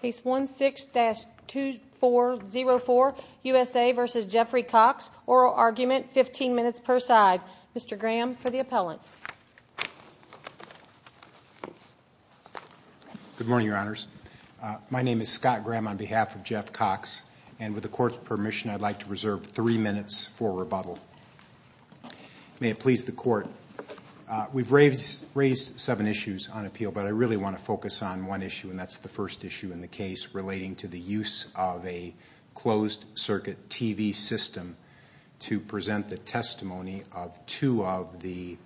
Case 16-2404, USA v. Jeffrey Cox, Oral Argument, 15 minutes per side. Mr. Graham for the appellant. Good morning, Your Honors. My name is Scott Graham on behalf of Jeff Cox, and with the Court's permission, I'd like to reserve three minutes for rebuttal. May it please the Court. We've raised seven issues on appeal, but I really want to focus on one issue, and that's the first issue in the case relating to the use of a closed-circuit TV system to present the testimony of two of the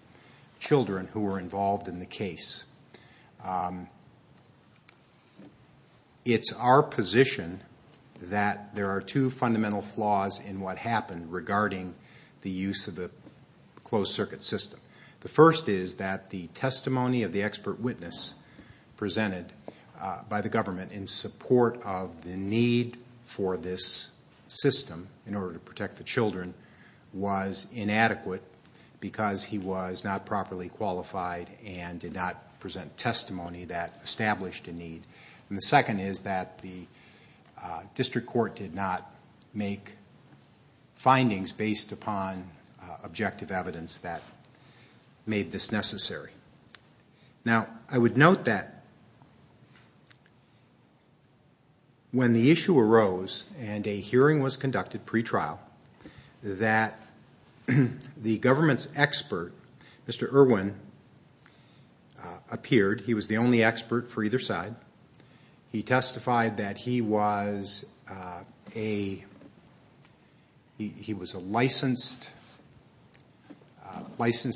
children who were involved in the case. It's our position that there are two fundamental flaws in what happened regarding the use of the closed-circuit system. The first is that the testimony of the expert witness presented by the government in support of the need for this system in order to protect the children was inadequate because he was not properly qualified and did not present testimony that established a need. And the second is that the district court did not make findings based upon objective evidence that made this necessary. Now, I would note that when the issue arose and a hearing was conducted pretrial, that the government's expert, Mr. Irwin, appeared. He was the only expert for either side. He testified that he was licensed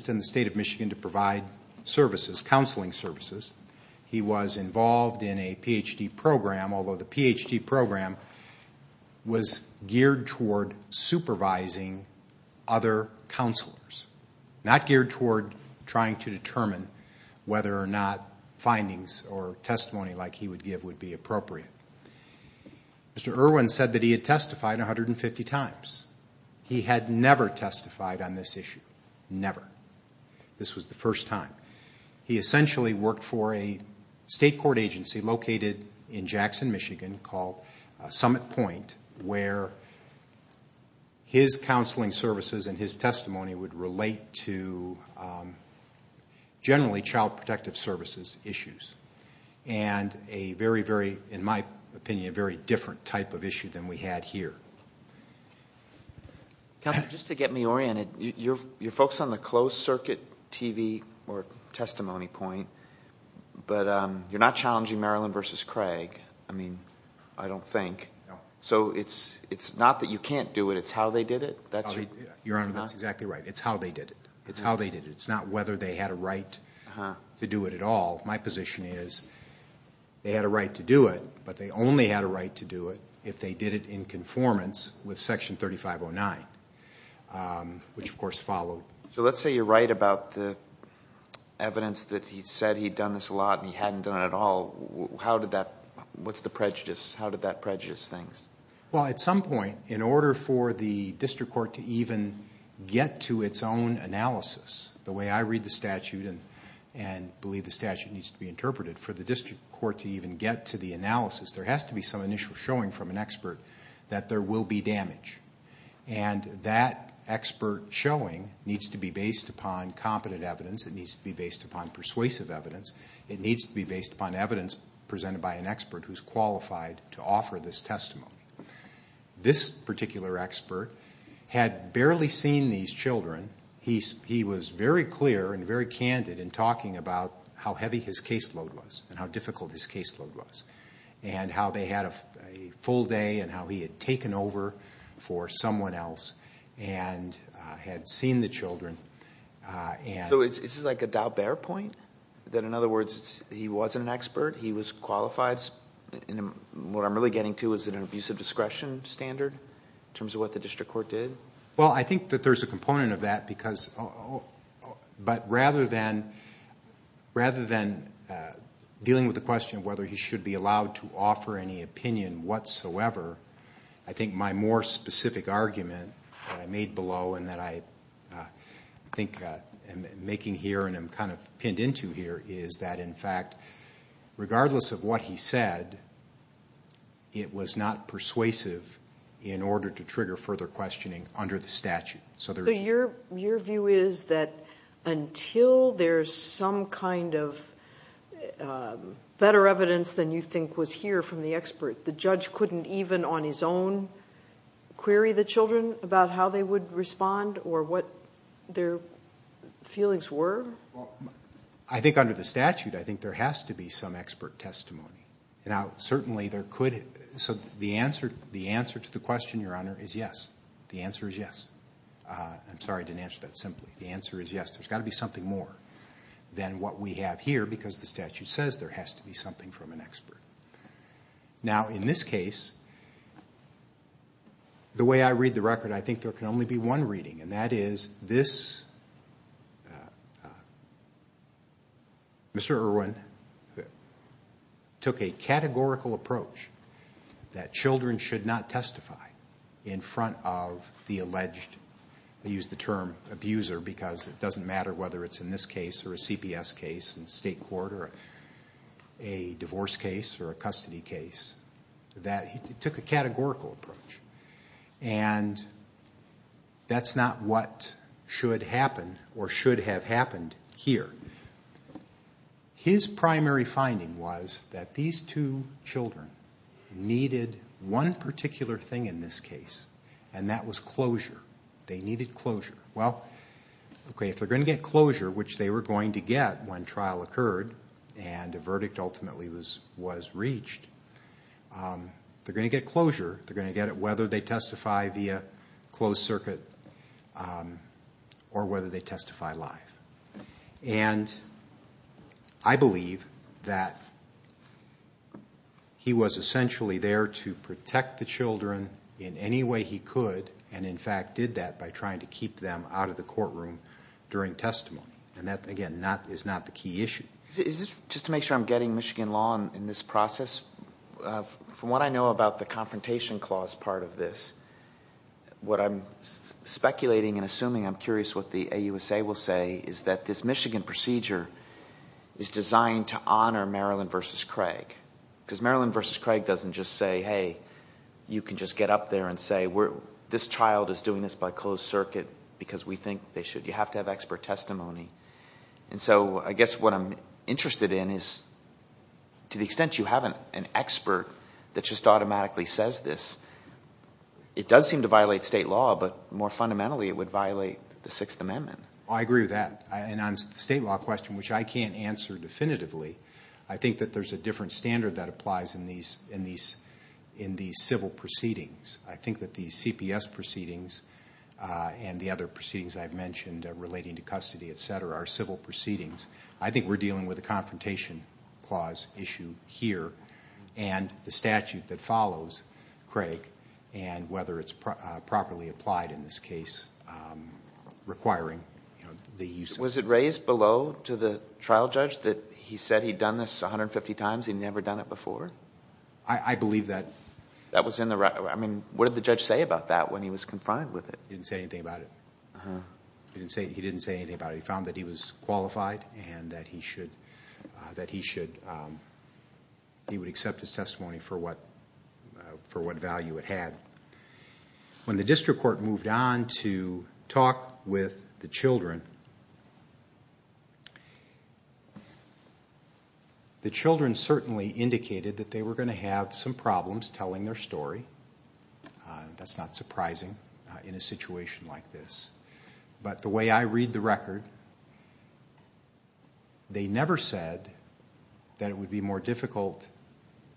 in the state of Michigan to provide services, counseling services. He was other counselors, not geared toward trying to determine whether or not findings or testimony like he would give would be appropriate. Mr. Irwin said that he had testified 150 times. He had never testified on this issue, never. This was the first time. He essentially worked for a state court agency located in Jackson, Michigan, called Summit Point, where his counseling services and his testimony would relate to, generally, child protective services issues. And a very, very, in my opinion, a very different type of issue than we had here. Counselor, just to get me oriented, you're focused on the closed-circuit TV or testimony point, but you're not challenging Maryland v. Craig, I mean, I don't think. So it's not that you can't do it, it's how they did it? Your Honor, that's exactly right. It's how they did it. It's not whether they had a right to do it at all. My position is they had a right to do it, but they only had a right to do it if they did it in conformance with Section 3509, which, of course, followed. So let's say you're right about the evidence that he said he'd done this a lot and he hadn't done it at all. What's the prejudice? How did that prejudice things? Well, at some point, in order for the district court to even get to its own analysis, the way I read the statute and believe the statute needs to be interpreted, for the district court to even get to the analysis, there has to be some initial showing from an expert that there will be damage. And that expert showing needs to be based upon competent evidence. It needs to be based upon persuasive evidence. It needs to be based upon evidence presented by an expert who's qualified to offer this testimony. This particular expert had barely seen these children. He was very clear and very candid in talking about how heavy his caseload was and how difficult his caseload was and how they had a full day and how he had taken over for someone else and had seen the children. So is this like a doubt-bear point? That, in other words, he wasn't an expert? He was qualified? What I'm really getting to, is it an abuse of discretion standard, in terms of what the district court did? Well, I think that there's a component of that. But rather than dealing with the question of whether he should be allowed to offer any opinion whatsoever, I think my more specific argument that I made below and that I think I'm making here and I'm kind of pinned into here, is that, in fact, regardless of what he said, it was not persuasive in order to trigger further questioning under the statute. So your view is that until there's some kind of better evidence than you think was here from the expert, the judge couldn't even on his own query the children about how they would respond or what their feelings were? I think under the statute, I think there has to be some expert testimony. Now, certainly there question, Your Honor, is yes. The answer is yes. I'm sorry I didn't answer that simply. The answer is yes. There's got to be something more than what we have here, because the statute says there has to be something from an expert. Now, in this case, the way I read the record, I think there can only be one reading, and that is, Mr. Irwin took a categorical approach that children should not testify in front of the alleged, I use the term abuser because it doesn't matter whether it's in this case or a CPS case in state court or a divorce case or a custody case, that he took a categorical approach. And that's not what should happen or should have happened here. His primary finding was that these two children needed one particular thing in this case, and that was closure. They needed closure. Well, okay, if they're going to get closure, which they were going to get when trial occurred and a verdict ultimately was reached, they're going to get closure. They're going to get it whether they He was essentially there to protect the children in any way he could, and in fact did that by trying to keep them out of the courtroom during testimony. And that, again, is not the key issue. Just to make sure I'm getting Michigan law in this process, from what I know about the Confrontation Clause part of this, what I'm speculating and assuming, I'm curious what the Michigan procedure is designed to honor Maryland v. Craig. Because Maryland v. Craig doesn't just say, hey, you can just get up there and say this child is doing this by closed circuit because we think they should. You have to have expert testimony. And so I guess what I'm interested in is to the extent you have an expert that just automatically says this, it does seem to violate state law, but more fundamentally it would violate the Sixth Amendment. I agree with that. And on the state law question, which I can't answer definitively, I think that there's a different standard that applies in these civil proceedings. I think that the CPS proceedings and the other proceedings I've mentioned relating to custody, etc., are civil proceedings. I think we're dealing with a Confrontation Clause issue here and the use of it. Was it raised below to the trial judge that he said he'd done this 150 times, he'd never done it before? I believe that. What did the judge say about that when he was confined with it? He didn't say anything about it. He didn't say anything about it. He found that he was qualified and that he would accept his testimony for what value it had. When the district court moved on to talk with the children, the children certainly indicated that they were going to have some problems telling their story. That's not surprising in a situation like this. But the way I read the record, they never said that it would be more difficult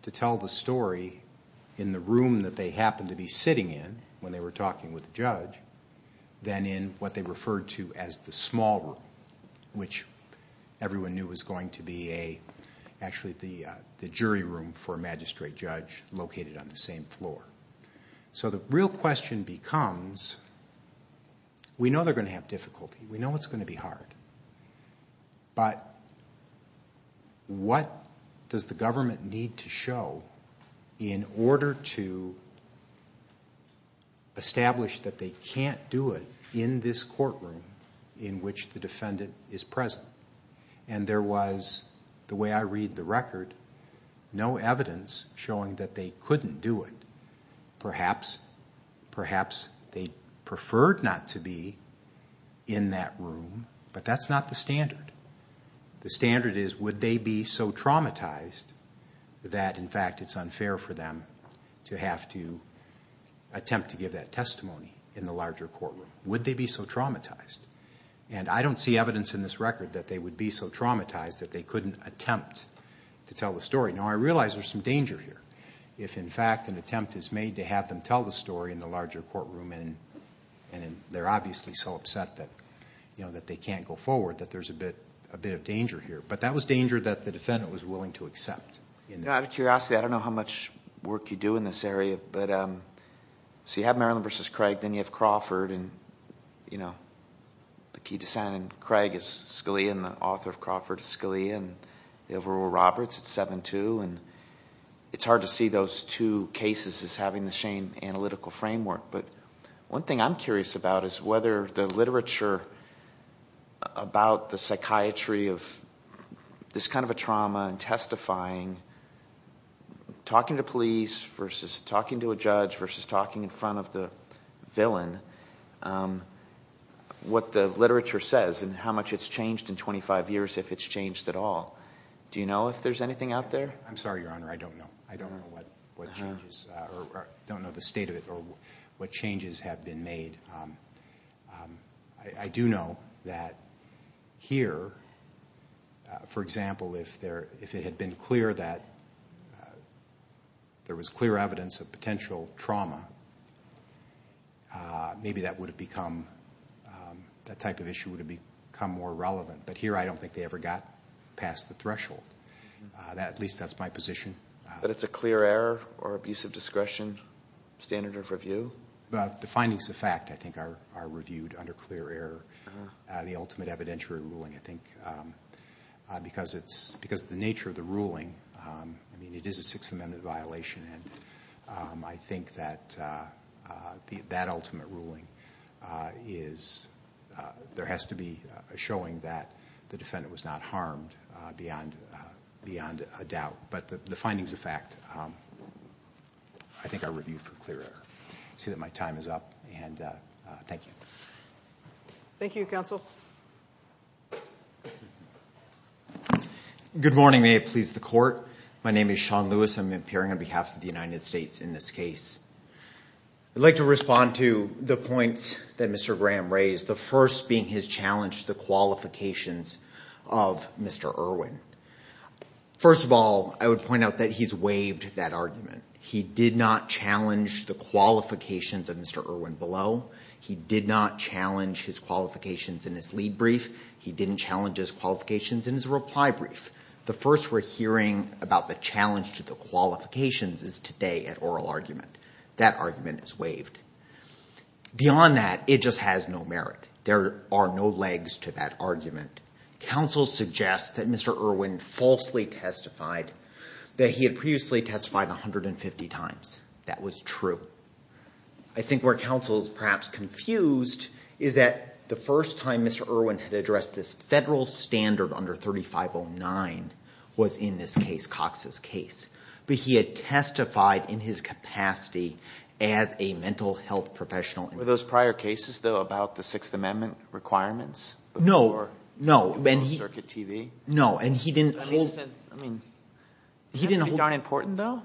to tell the story in the room that they happened to be sitting in when they were talking with the judge than in what they referred to as the small room, which everyone knew was going to be actually the jury room for a magistrate judge located on the same floor. The real question becomes, we know they're going to have difficulty, we know it's going to be hard, but what does the government need to show in order to establish that they can't do it in this courtroom in which the defendant is present? And there was, the way I read the record, no evidence showing that they couldn't do it. Perhaps they preferred not to be in that room, but that's not the standard. The standard is, would they be so traumatized that in fact it's unfair for them to have to attempt to give that testimony in the larger courtroom? Would they be so traumatized? And I don't see evidence in this record that they would be so traumatized that they couldn't attempt to tell the story. Now, I realize there's some danger here. If in fact an attempt is made to have them tell the story in the larger courtroom and they're obviously so upset that they can't go forward, that there's a bit of danger here. But that was danger that the defendant was willing to accept. Out of curiosity, I don't know how much work you do in this area, but so you have Maryland v. Craig, then you have Crawford, and the key descendant in Craig is Scalia, and the author of Crawford is Scalia, and the overall Roberts, it's 7-2, and it's hard to see those two cases as having the same analytical framework. But one thing I'm curious about is whether the literature about the psychiatry of this kind of a trauma and testifying, talking to police versus talking to a judge versus talking in front of the villain, what the literature says and how much it's changed in 25 years if it's changed at all. Do you know if there's anything out there? I'm sorry, Your Honor, I don't know. I don't know what changes, or don't know the state of it, what changes have been made. I do know that here, for example, if it had been clear that there was clear evidence of potential trauma, maybe that would have become, that type of issue would have become more relevant. But here, I don't think they ever got past the threshold. At least that's my position. But it's a clear error or abuse of discretion standard of review? Well, the findings of fact, I think, are reviewed under clear error. The ultimate evidentiary ruling, I think, because the nature of the ruling, I mean, it is a Sixth Amendment violation, and I think that that ultimate ruling is, there has to be a showing that the defendant was not harmed beyond a doubt. But the findings of fact, I think are reviewed for clear error. I see that my time is up, and thank you. Thank you, counsel. Good morning. May it please the Court. My name is Sean Lewis. I'm appearing on behalf of the United States in this case. I'd like to respond to the points that Mr. Graham raised, the first being his challenge to the qualifications of Mr. Irwin. First of all, I would point out that he's waived that argument. He did not challenge the qualifications of Mr. Irwin below. He did not challenge his qualifications in his lead brief. He didn't challenge his qualifications in his reply brief. The first we're hearing about the challenge to the qualifications is today at oral argument. That argument is waived. Beyond that, it just has no merit. There are no legs to that argument. Counsel suggests that Mr. Irwin falsely testified, that he had previously testified 150 times. That was true. I think where counsel is perhaps confused is that the first time Mr. Irwin had addressed this federal standard under 3509 was in this case, Cox's case. But he had testified in his capacity as a mental health professional. Were those prior cases though about the Sixth Amendment requirements? No, no. And he didn't hold... I mean, that's not important though.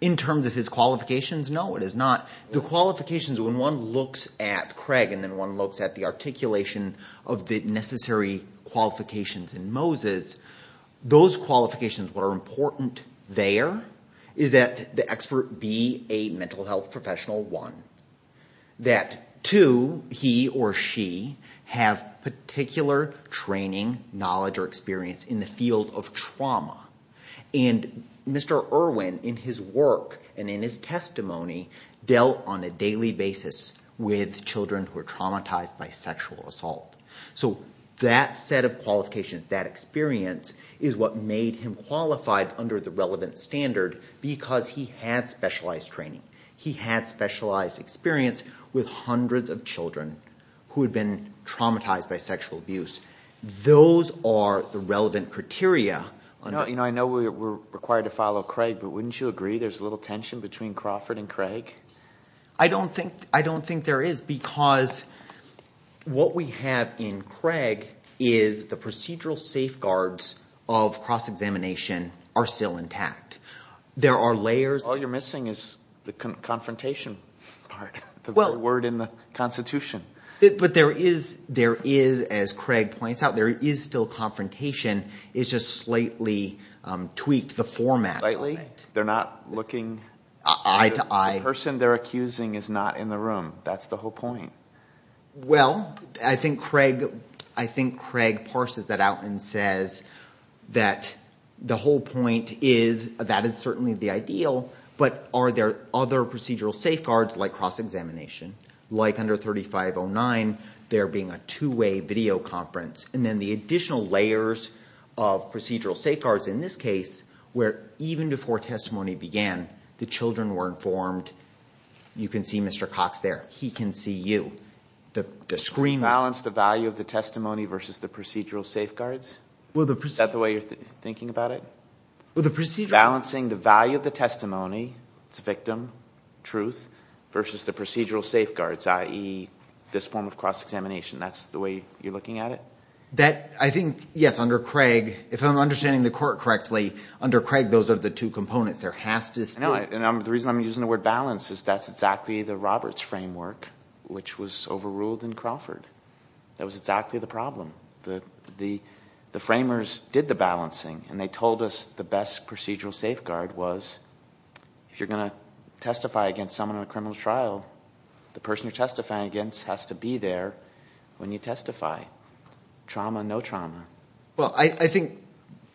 In terms of his qualifications, no it is not. The qualifications, when one looks at Craig and then one looks at the articulation of the necessary qualifications in Moses, those qualifications, what are important there is that the expert be a mental health professional, one. That two, he or she have particular training, knowledge or experience in the field of trauma. And Mr. Irwin in his work and in his testimony dealt on a daily basis with children who are traumatized by sexual under the relevant standard because he had specialized training. He had specialized experience with hundreds of children who had been traumatized by sexual abuse. Those are the relevant criteria. I know we're required to follow Craig, but wouldn't you agree there's a little tension between Crawford and Craig? I don't think there is because what we have in Craig is the procedural safeguards of cross-examination are still intact. There are layers... All you're missing is the confrontation part, the word in the Constitution. But there is, as Craig points out, there is still confrontation. It's just slightly tweaked, the format. Slightly? They're not looking... Eye to eye. The person they're accusing is not in the room. That's the whole point. Well, I think Craig parses that out and says that the whole point is that is certainly the ideal, but are there other procedural safeguards like cross-examination? Like under 3509, there being a two-way video conference. And then the additional layers of procedural safeguards, in this case, where even before testimony began, the children were informed. You can see Mr. Cox there. He can see you. The screen... Balance the value of the testimony versus the procedural safeguards? Is that the way you're thinking about it? Balancing the value of the testimony, it's a victim, truth, versus the procedural safeguards, i.e. this form of cross-examination. That's the way you're looking at it? I think, yes, under Craig, if I'm understanding the court correctly, under Craig, those are the two components. There has to still... No, and the reason I'm using the word balance is that's exactly the Roberts framework, which was overruled in Crawford. That was exactly the problem. The framers did the balancing, and they told us the best procedural safeguard was if you're going to testify against someone on a criminal trial, the person you're testifying against has to be there when you testify. Trauma, no trauma. Well, I think,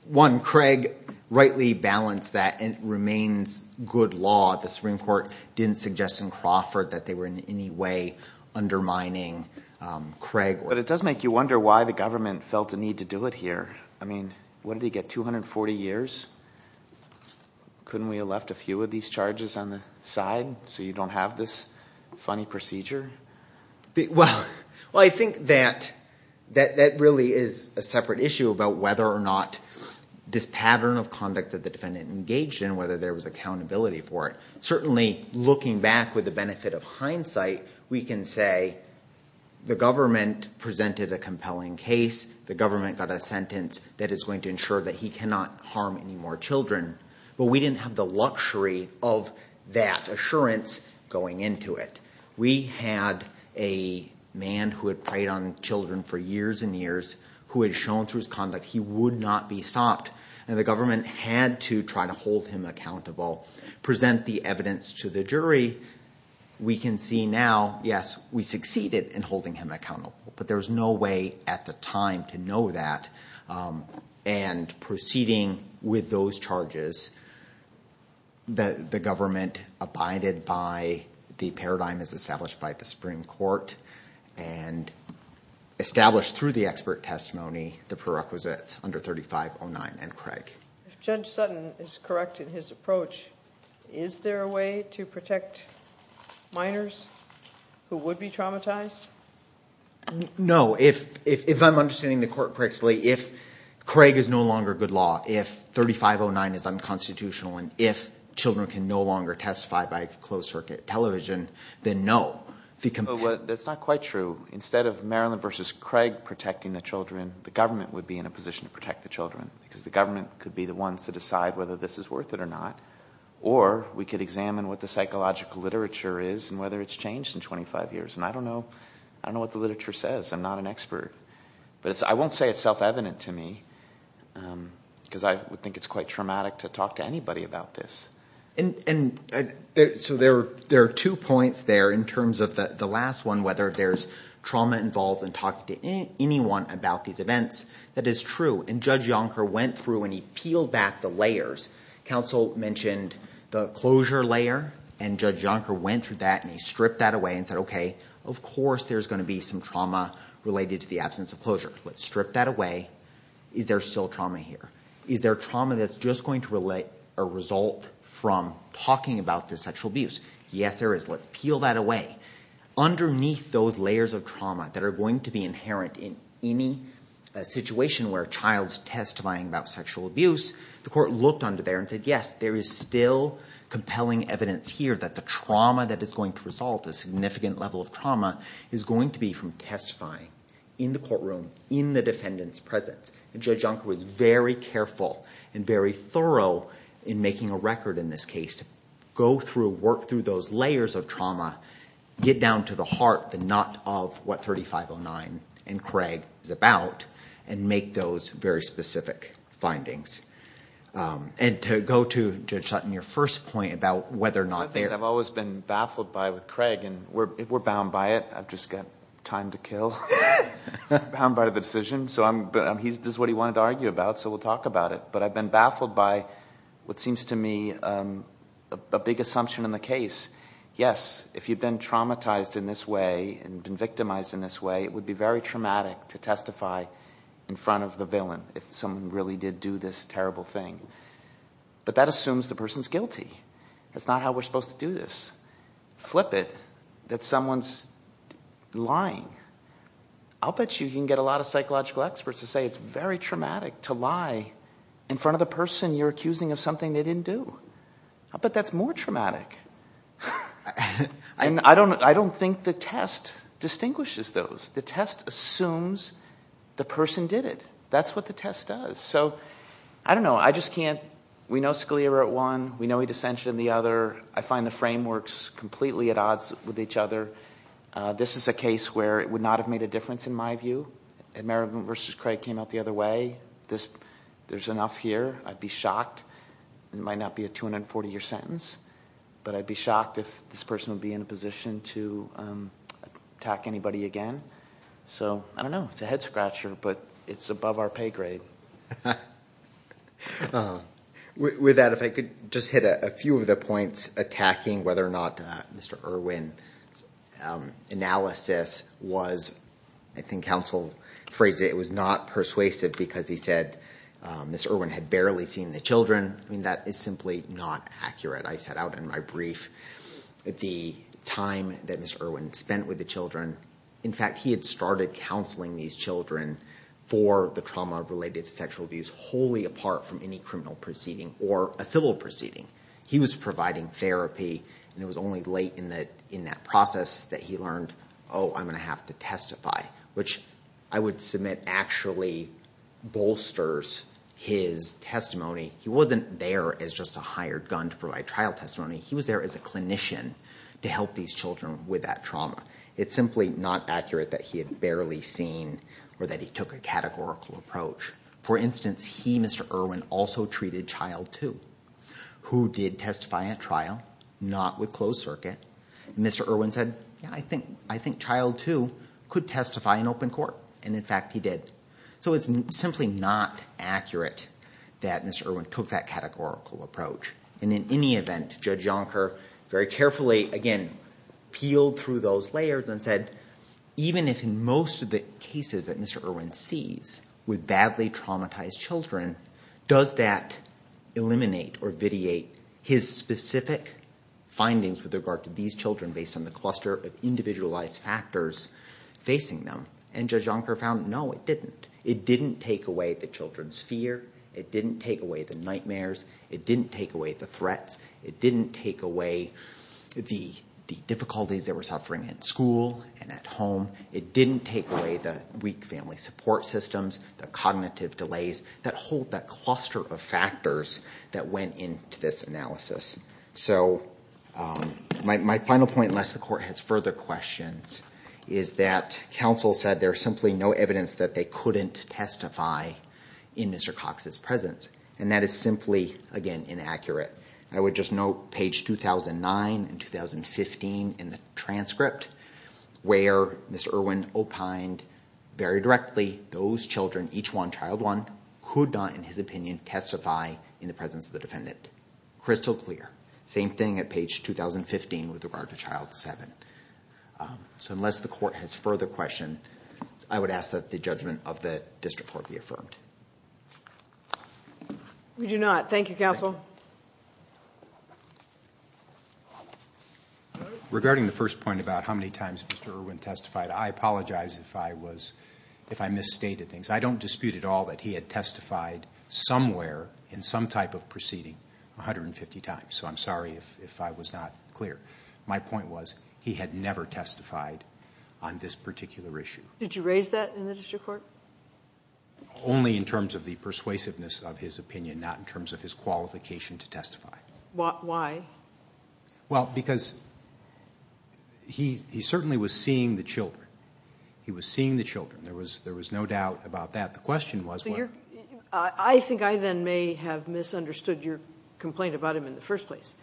one, Craig rightly balanced that. It remains good law. The Supreme Court didn't suggest in Crawford that they were in any way undermining Craig. But it does make you wonder why the government felt the need to do it here. I mean, what did he get, 240 years? Couldn't we have left a few of these charges on the side so you don't have this funny procedure? Well, I think that that really is a separate issue about whether or not this pattern of conduct that the defendant engaged in, whether there was accountability for it. Certainly, looking back with the benefit of hindsight, we can say the government presented a compelling case. The government got a sentence that is going to ensure that he cannot harm any more children. But we had a man who had preyed on children for years and years who had shown through his conduct he would not be stopped. And the government had to try to hold him accountable, present the evidence to the jury. We can see now, yes, we succeeded in holding him accountable. But there was no way at the time to know that. And proceeding with those charges, the government abided by the paradigm as established by the Supreme Court and established through the expert testimony the prerequisites under 3509 and Craig. If Judge Sutton is correct in his approach, is there a way to protect minors who would be traumatized? No. If I'm understanding the court correctly, if Craig is no longer good law, if 3509 is unconstitutional, and if children can no longer testify by closed circuit television, then no. That's not quite true. Instead of Maryland v. Craig protecting the children, the government would be in a position to protect the children because the government could be the ones to or we could examine what the psychological literature is and whether it's changed in 25 years. And I don't know what the literature says. I'm not an expert. But I won't say it's self-evident to me because I would think it's quite traumatic to talk to anybody about this. So there are two points there in terms of the last one, whether there's trauma involved in talking to anyone about these events. That is true. And Judge Yonker went through and he peeled back the layers. Counsel mentioned the closure layer, and Judge Yonker went through that and he stripped that away and said, okay, of course there's going to be some trauma related to the absence of closure. Let's strip that away. Is there still trauma here? Is there trauma that's just going to relate a result from talking about this sexual abuse? Yes, there is. Let's peel that away. Underneath those layers of trauma that are going to be inherent in any situation where a court looked under there and said, yes, there is still compelling evidence here that the trauma that is going to result, the significant level of trauma, is going to be from testifying in the courtroom, in the defendant's presence. And Judge Yonker was very careful and very thorough in making a record in this case to go through, work through those layers of trauma, get down to the heart, the knot of what 3509 and Craig is about, and make those very specific findings. And to go to Judge Sutton, your first point about whether or not there- I've always been baffled by with Craig and we're bound by it. I've just got time to kill, bound by the decision. This is what he wanted to argue about, so we'll talk about it. But I've been baffled by what seems to me a big assumption in the case. Yes, if you've been traumatized in this way and been victimized in this way, it would be very traumatic to testify in front of the villain if someone really did do this terrible thing. But that assumes the person's guilty. That's not how we're supposed to do this. Flip it that someone's lying. I'll bet you can get a lot of psychological experts to say it's very traumatic to lie in front of the person you're accusing of something they didn't do. I'll bet that's more traumatic. And I don't think the test distinguishes those. The test assumes the person did it. That's what the test does. So I don't know. I just can't- we know Scalia wrote one. We know he dissented in the other. I find the frameworks completely at odds with each other. This is a case where it would not have made a difference in my view. Merriman v. Craig came out the other way. There's enough here. I'd be shocked. It might not be a 240-year sentence, but I'd be shocked if this person would be in a position to attack anybody again. So I don't know. It's a head-scratcher, but it's above our pay grade. With that, if I could just hit a few of the points attacking whether or not Mr. Irwin's analysis was- I think counsel phrased it- it was not persuasive because he said Mr. Irwin had barely seen the children. I mean, that is simply not accurate. I set out in my brief the time that Mr. Irwin spent with the children. In fact, he had started counseling these children for the trauma-related sexual abuse wholly apart from any criminal proceeding or a civil proceeding. He was providing therapy, and it was only late in that process that he learned, oh, I'm going to have to testify, which I would submit actually bolsters his testimony. He wasn't there as just a hired gun to provide trial testimony. He was there as a clinician to help these children with that trauma. It's simply not accurate that he had barely seen or that he took a categorical approach. For instance, he, Mr. Irwin, also treated child two who did testify at trial, not with closed circuit. Mr. Irwin said, I think child two could testify in open court. In fact, he did. It's simply not accurate that Mr. Irwin took that categorical approach. In any event, Judge Yonker very carefully, again, peeled through those layers and said, even if in most of the cases that Mr. Irwin sees with badly traumatized children, does that eliminate or vitiate his specific findings with regard to these children based on the cluster of individualized factors facing them? And Judge Yonker found, no, it didn't. It didn't take away the children's fear. It didn't take away the nightmares. It didn't take away the threats. It didn't take away the difficulties they were suffering in school and at home. It didn't take away the weak family support systems, the cognitive delays that hold that cluster of factors that went into this analysis. So my final point, unless the court has further questions, is that counsel said there's simply no evidence that they couldn't testify in Mr. Cox's presence. And that is simply, again, inaccurate. I would just note page 2009 and 2015 in the transcript where Mr. Irwin opined very directly, those children, each one child one, could not, in his opinion, testify in the presence of the defendant. Crystal clear. Same thing at page 2015 with regard to child seven. So unless the court has further questions, I would ask that the judgment of the district court be affirmed. We do not. Thank you, counsel. Regarding the first point about how many times Mr. Irwin testified, I apologize if I was misstated things. I don't dispute at all that he had testified somewhere in some type of proceeding 150 times. So I'm sorry if I was not clear. My point was he had never testified on this particular issue. Did you raise that in the district court? Only in terms of the persuasiveness of his opinion, not in terms of his qualification to testify. Why? Well, because he certainly was seeing the children. He was seeing the children. There was no doubt about that. The question was what? I think I then may have misunderstood your complaint about him in the first place.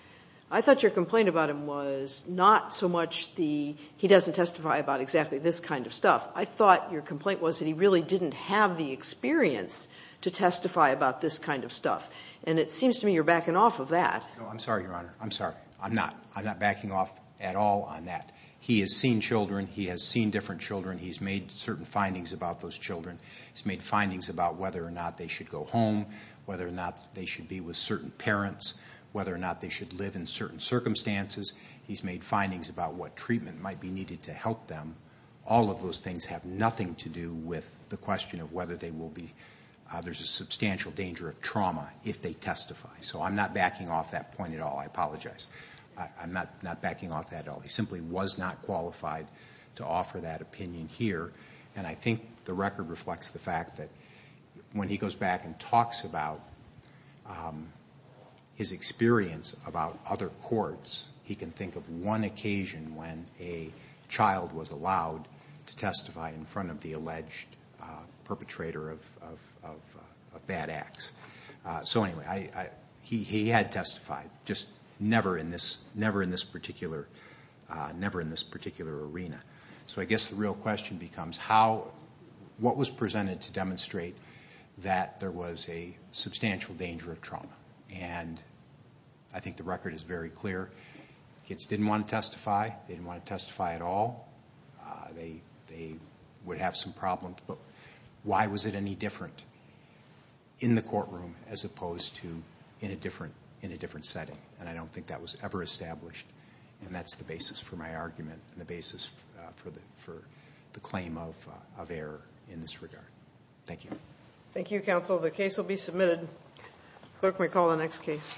I thought your complaint about him was not so much the he doesn't testify about exactly this kind of stuff. I thought your complaint was that he really didn't have the experience to testify about this kind of stuff. And it seems to me you're backing off of that. I'm sorry, Your Honor. I'm sorry. I'm not. I'm not backing off at all on that. He has seen children. He has seen different children. He's made certain findings about those children. He's made findings about whether or not they should go home, whether or not they should be with certain parents, whether or not they should live in certain circumstances. He's made findings about what treatment might be needed to help them. All of those things have nothing to do with the question of whether they will be. There's a substantial danger of trauma if they testify. So I'm not backing off that point at all. I apologize. I'm not backing off that at all. He simply was not and I think the record reflects the fact that when he goes back and talks about his experience about other courts, he can think of one occasion when a child was allowed to testify in front of the alleged perpetrator of bad acts. So anyway, he had testified, just never in this particular arena. So I guess the real question becomes what was presented to demonstrate that there was a substantial danger of trauma. And I think the record is very clear. Kids didn't want to testify. They didn't want to testify at all. They would have some problems. But why was it any different in the courtroom as opposed to in a different setting? And I don't think that was ever established and that's the basis for my argument and the basis for the claim of error in this regard. Thank you. Thank you, counsel. The case will be submitted. Clerk may call the next case.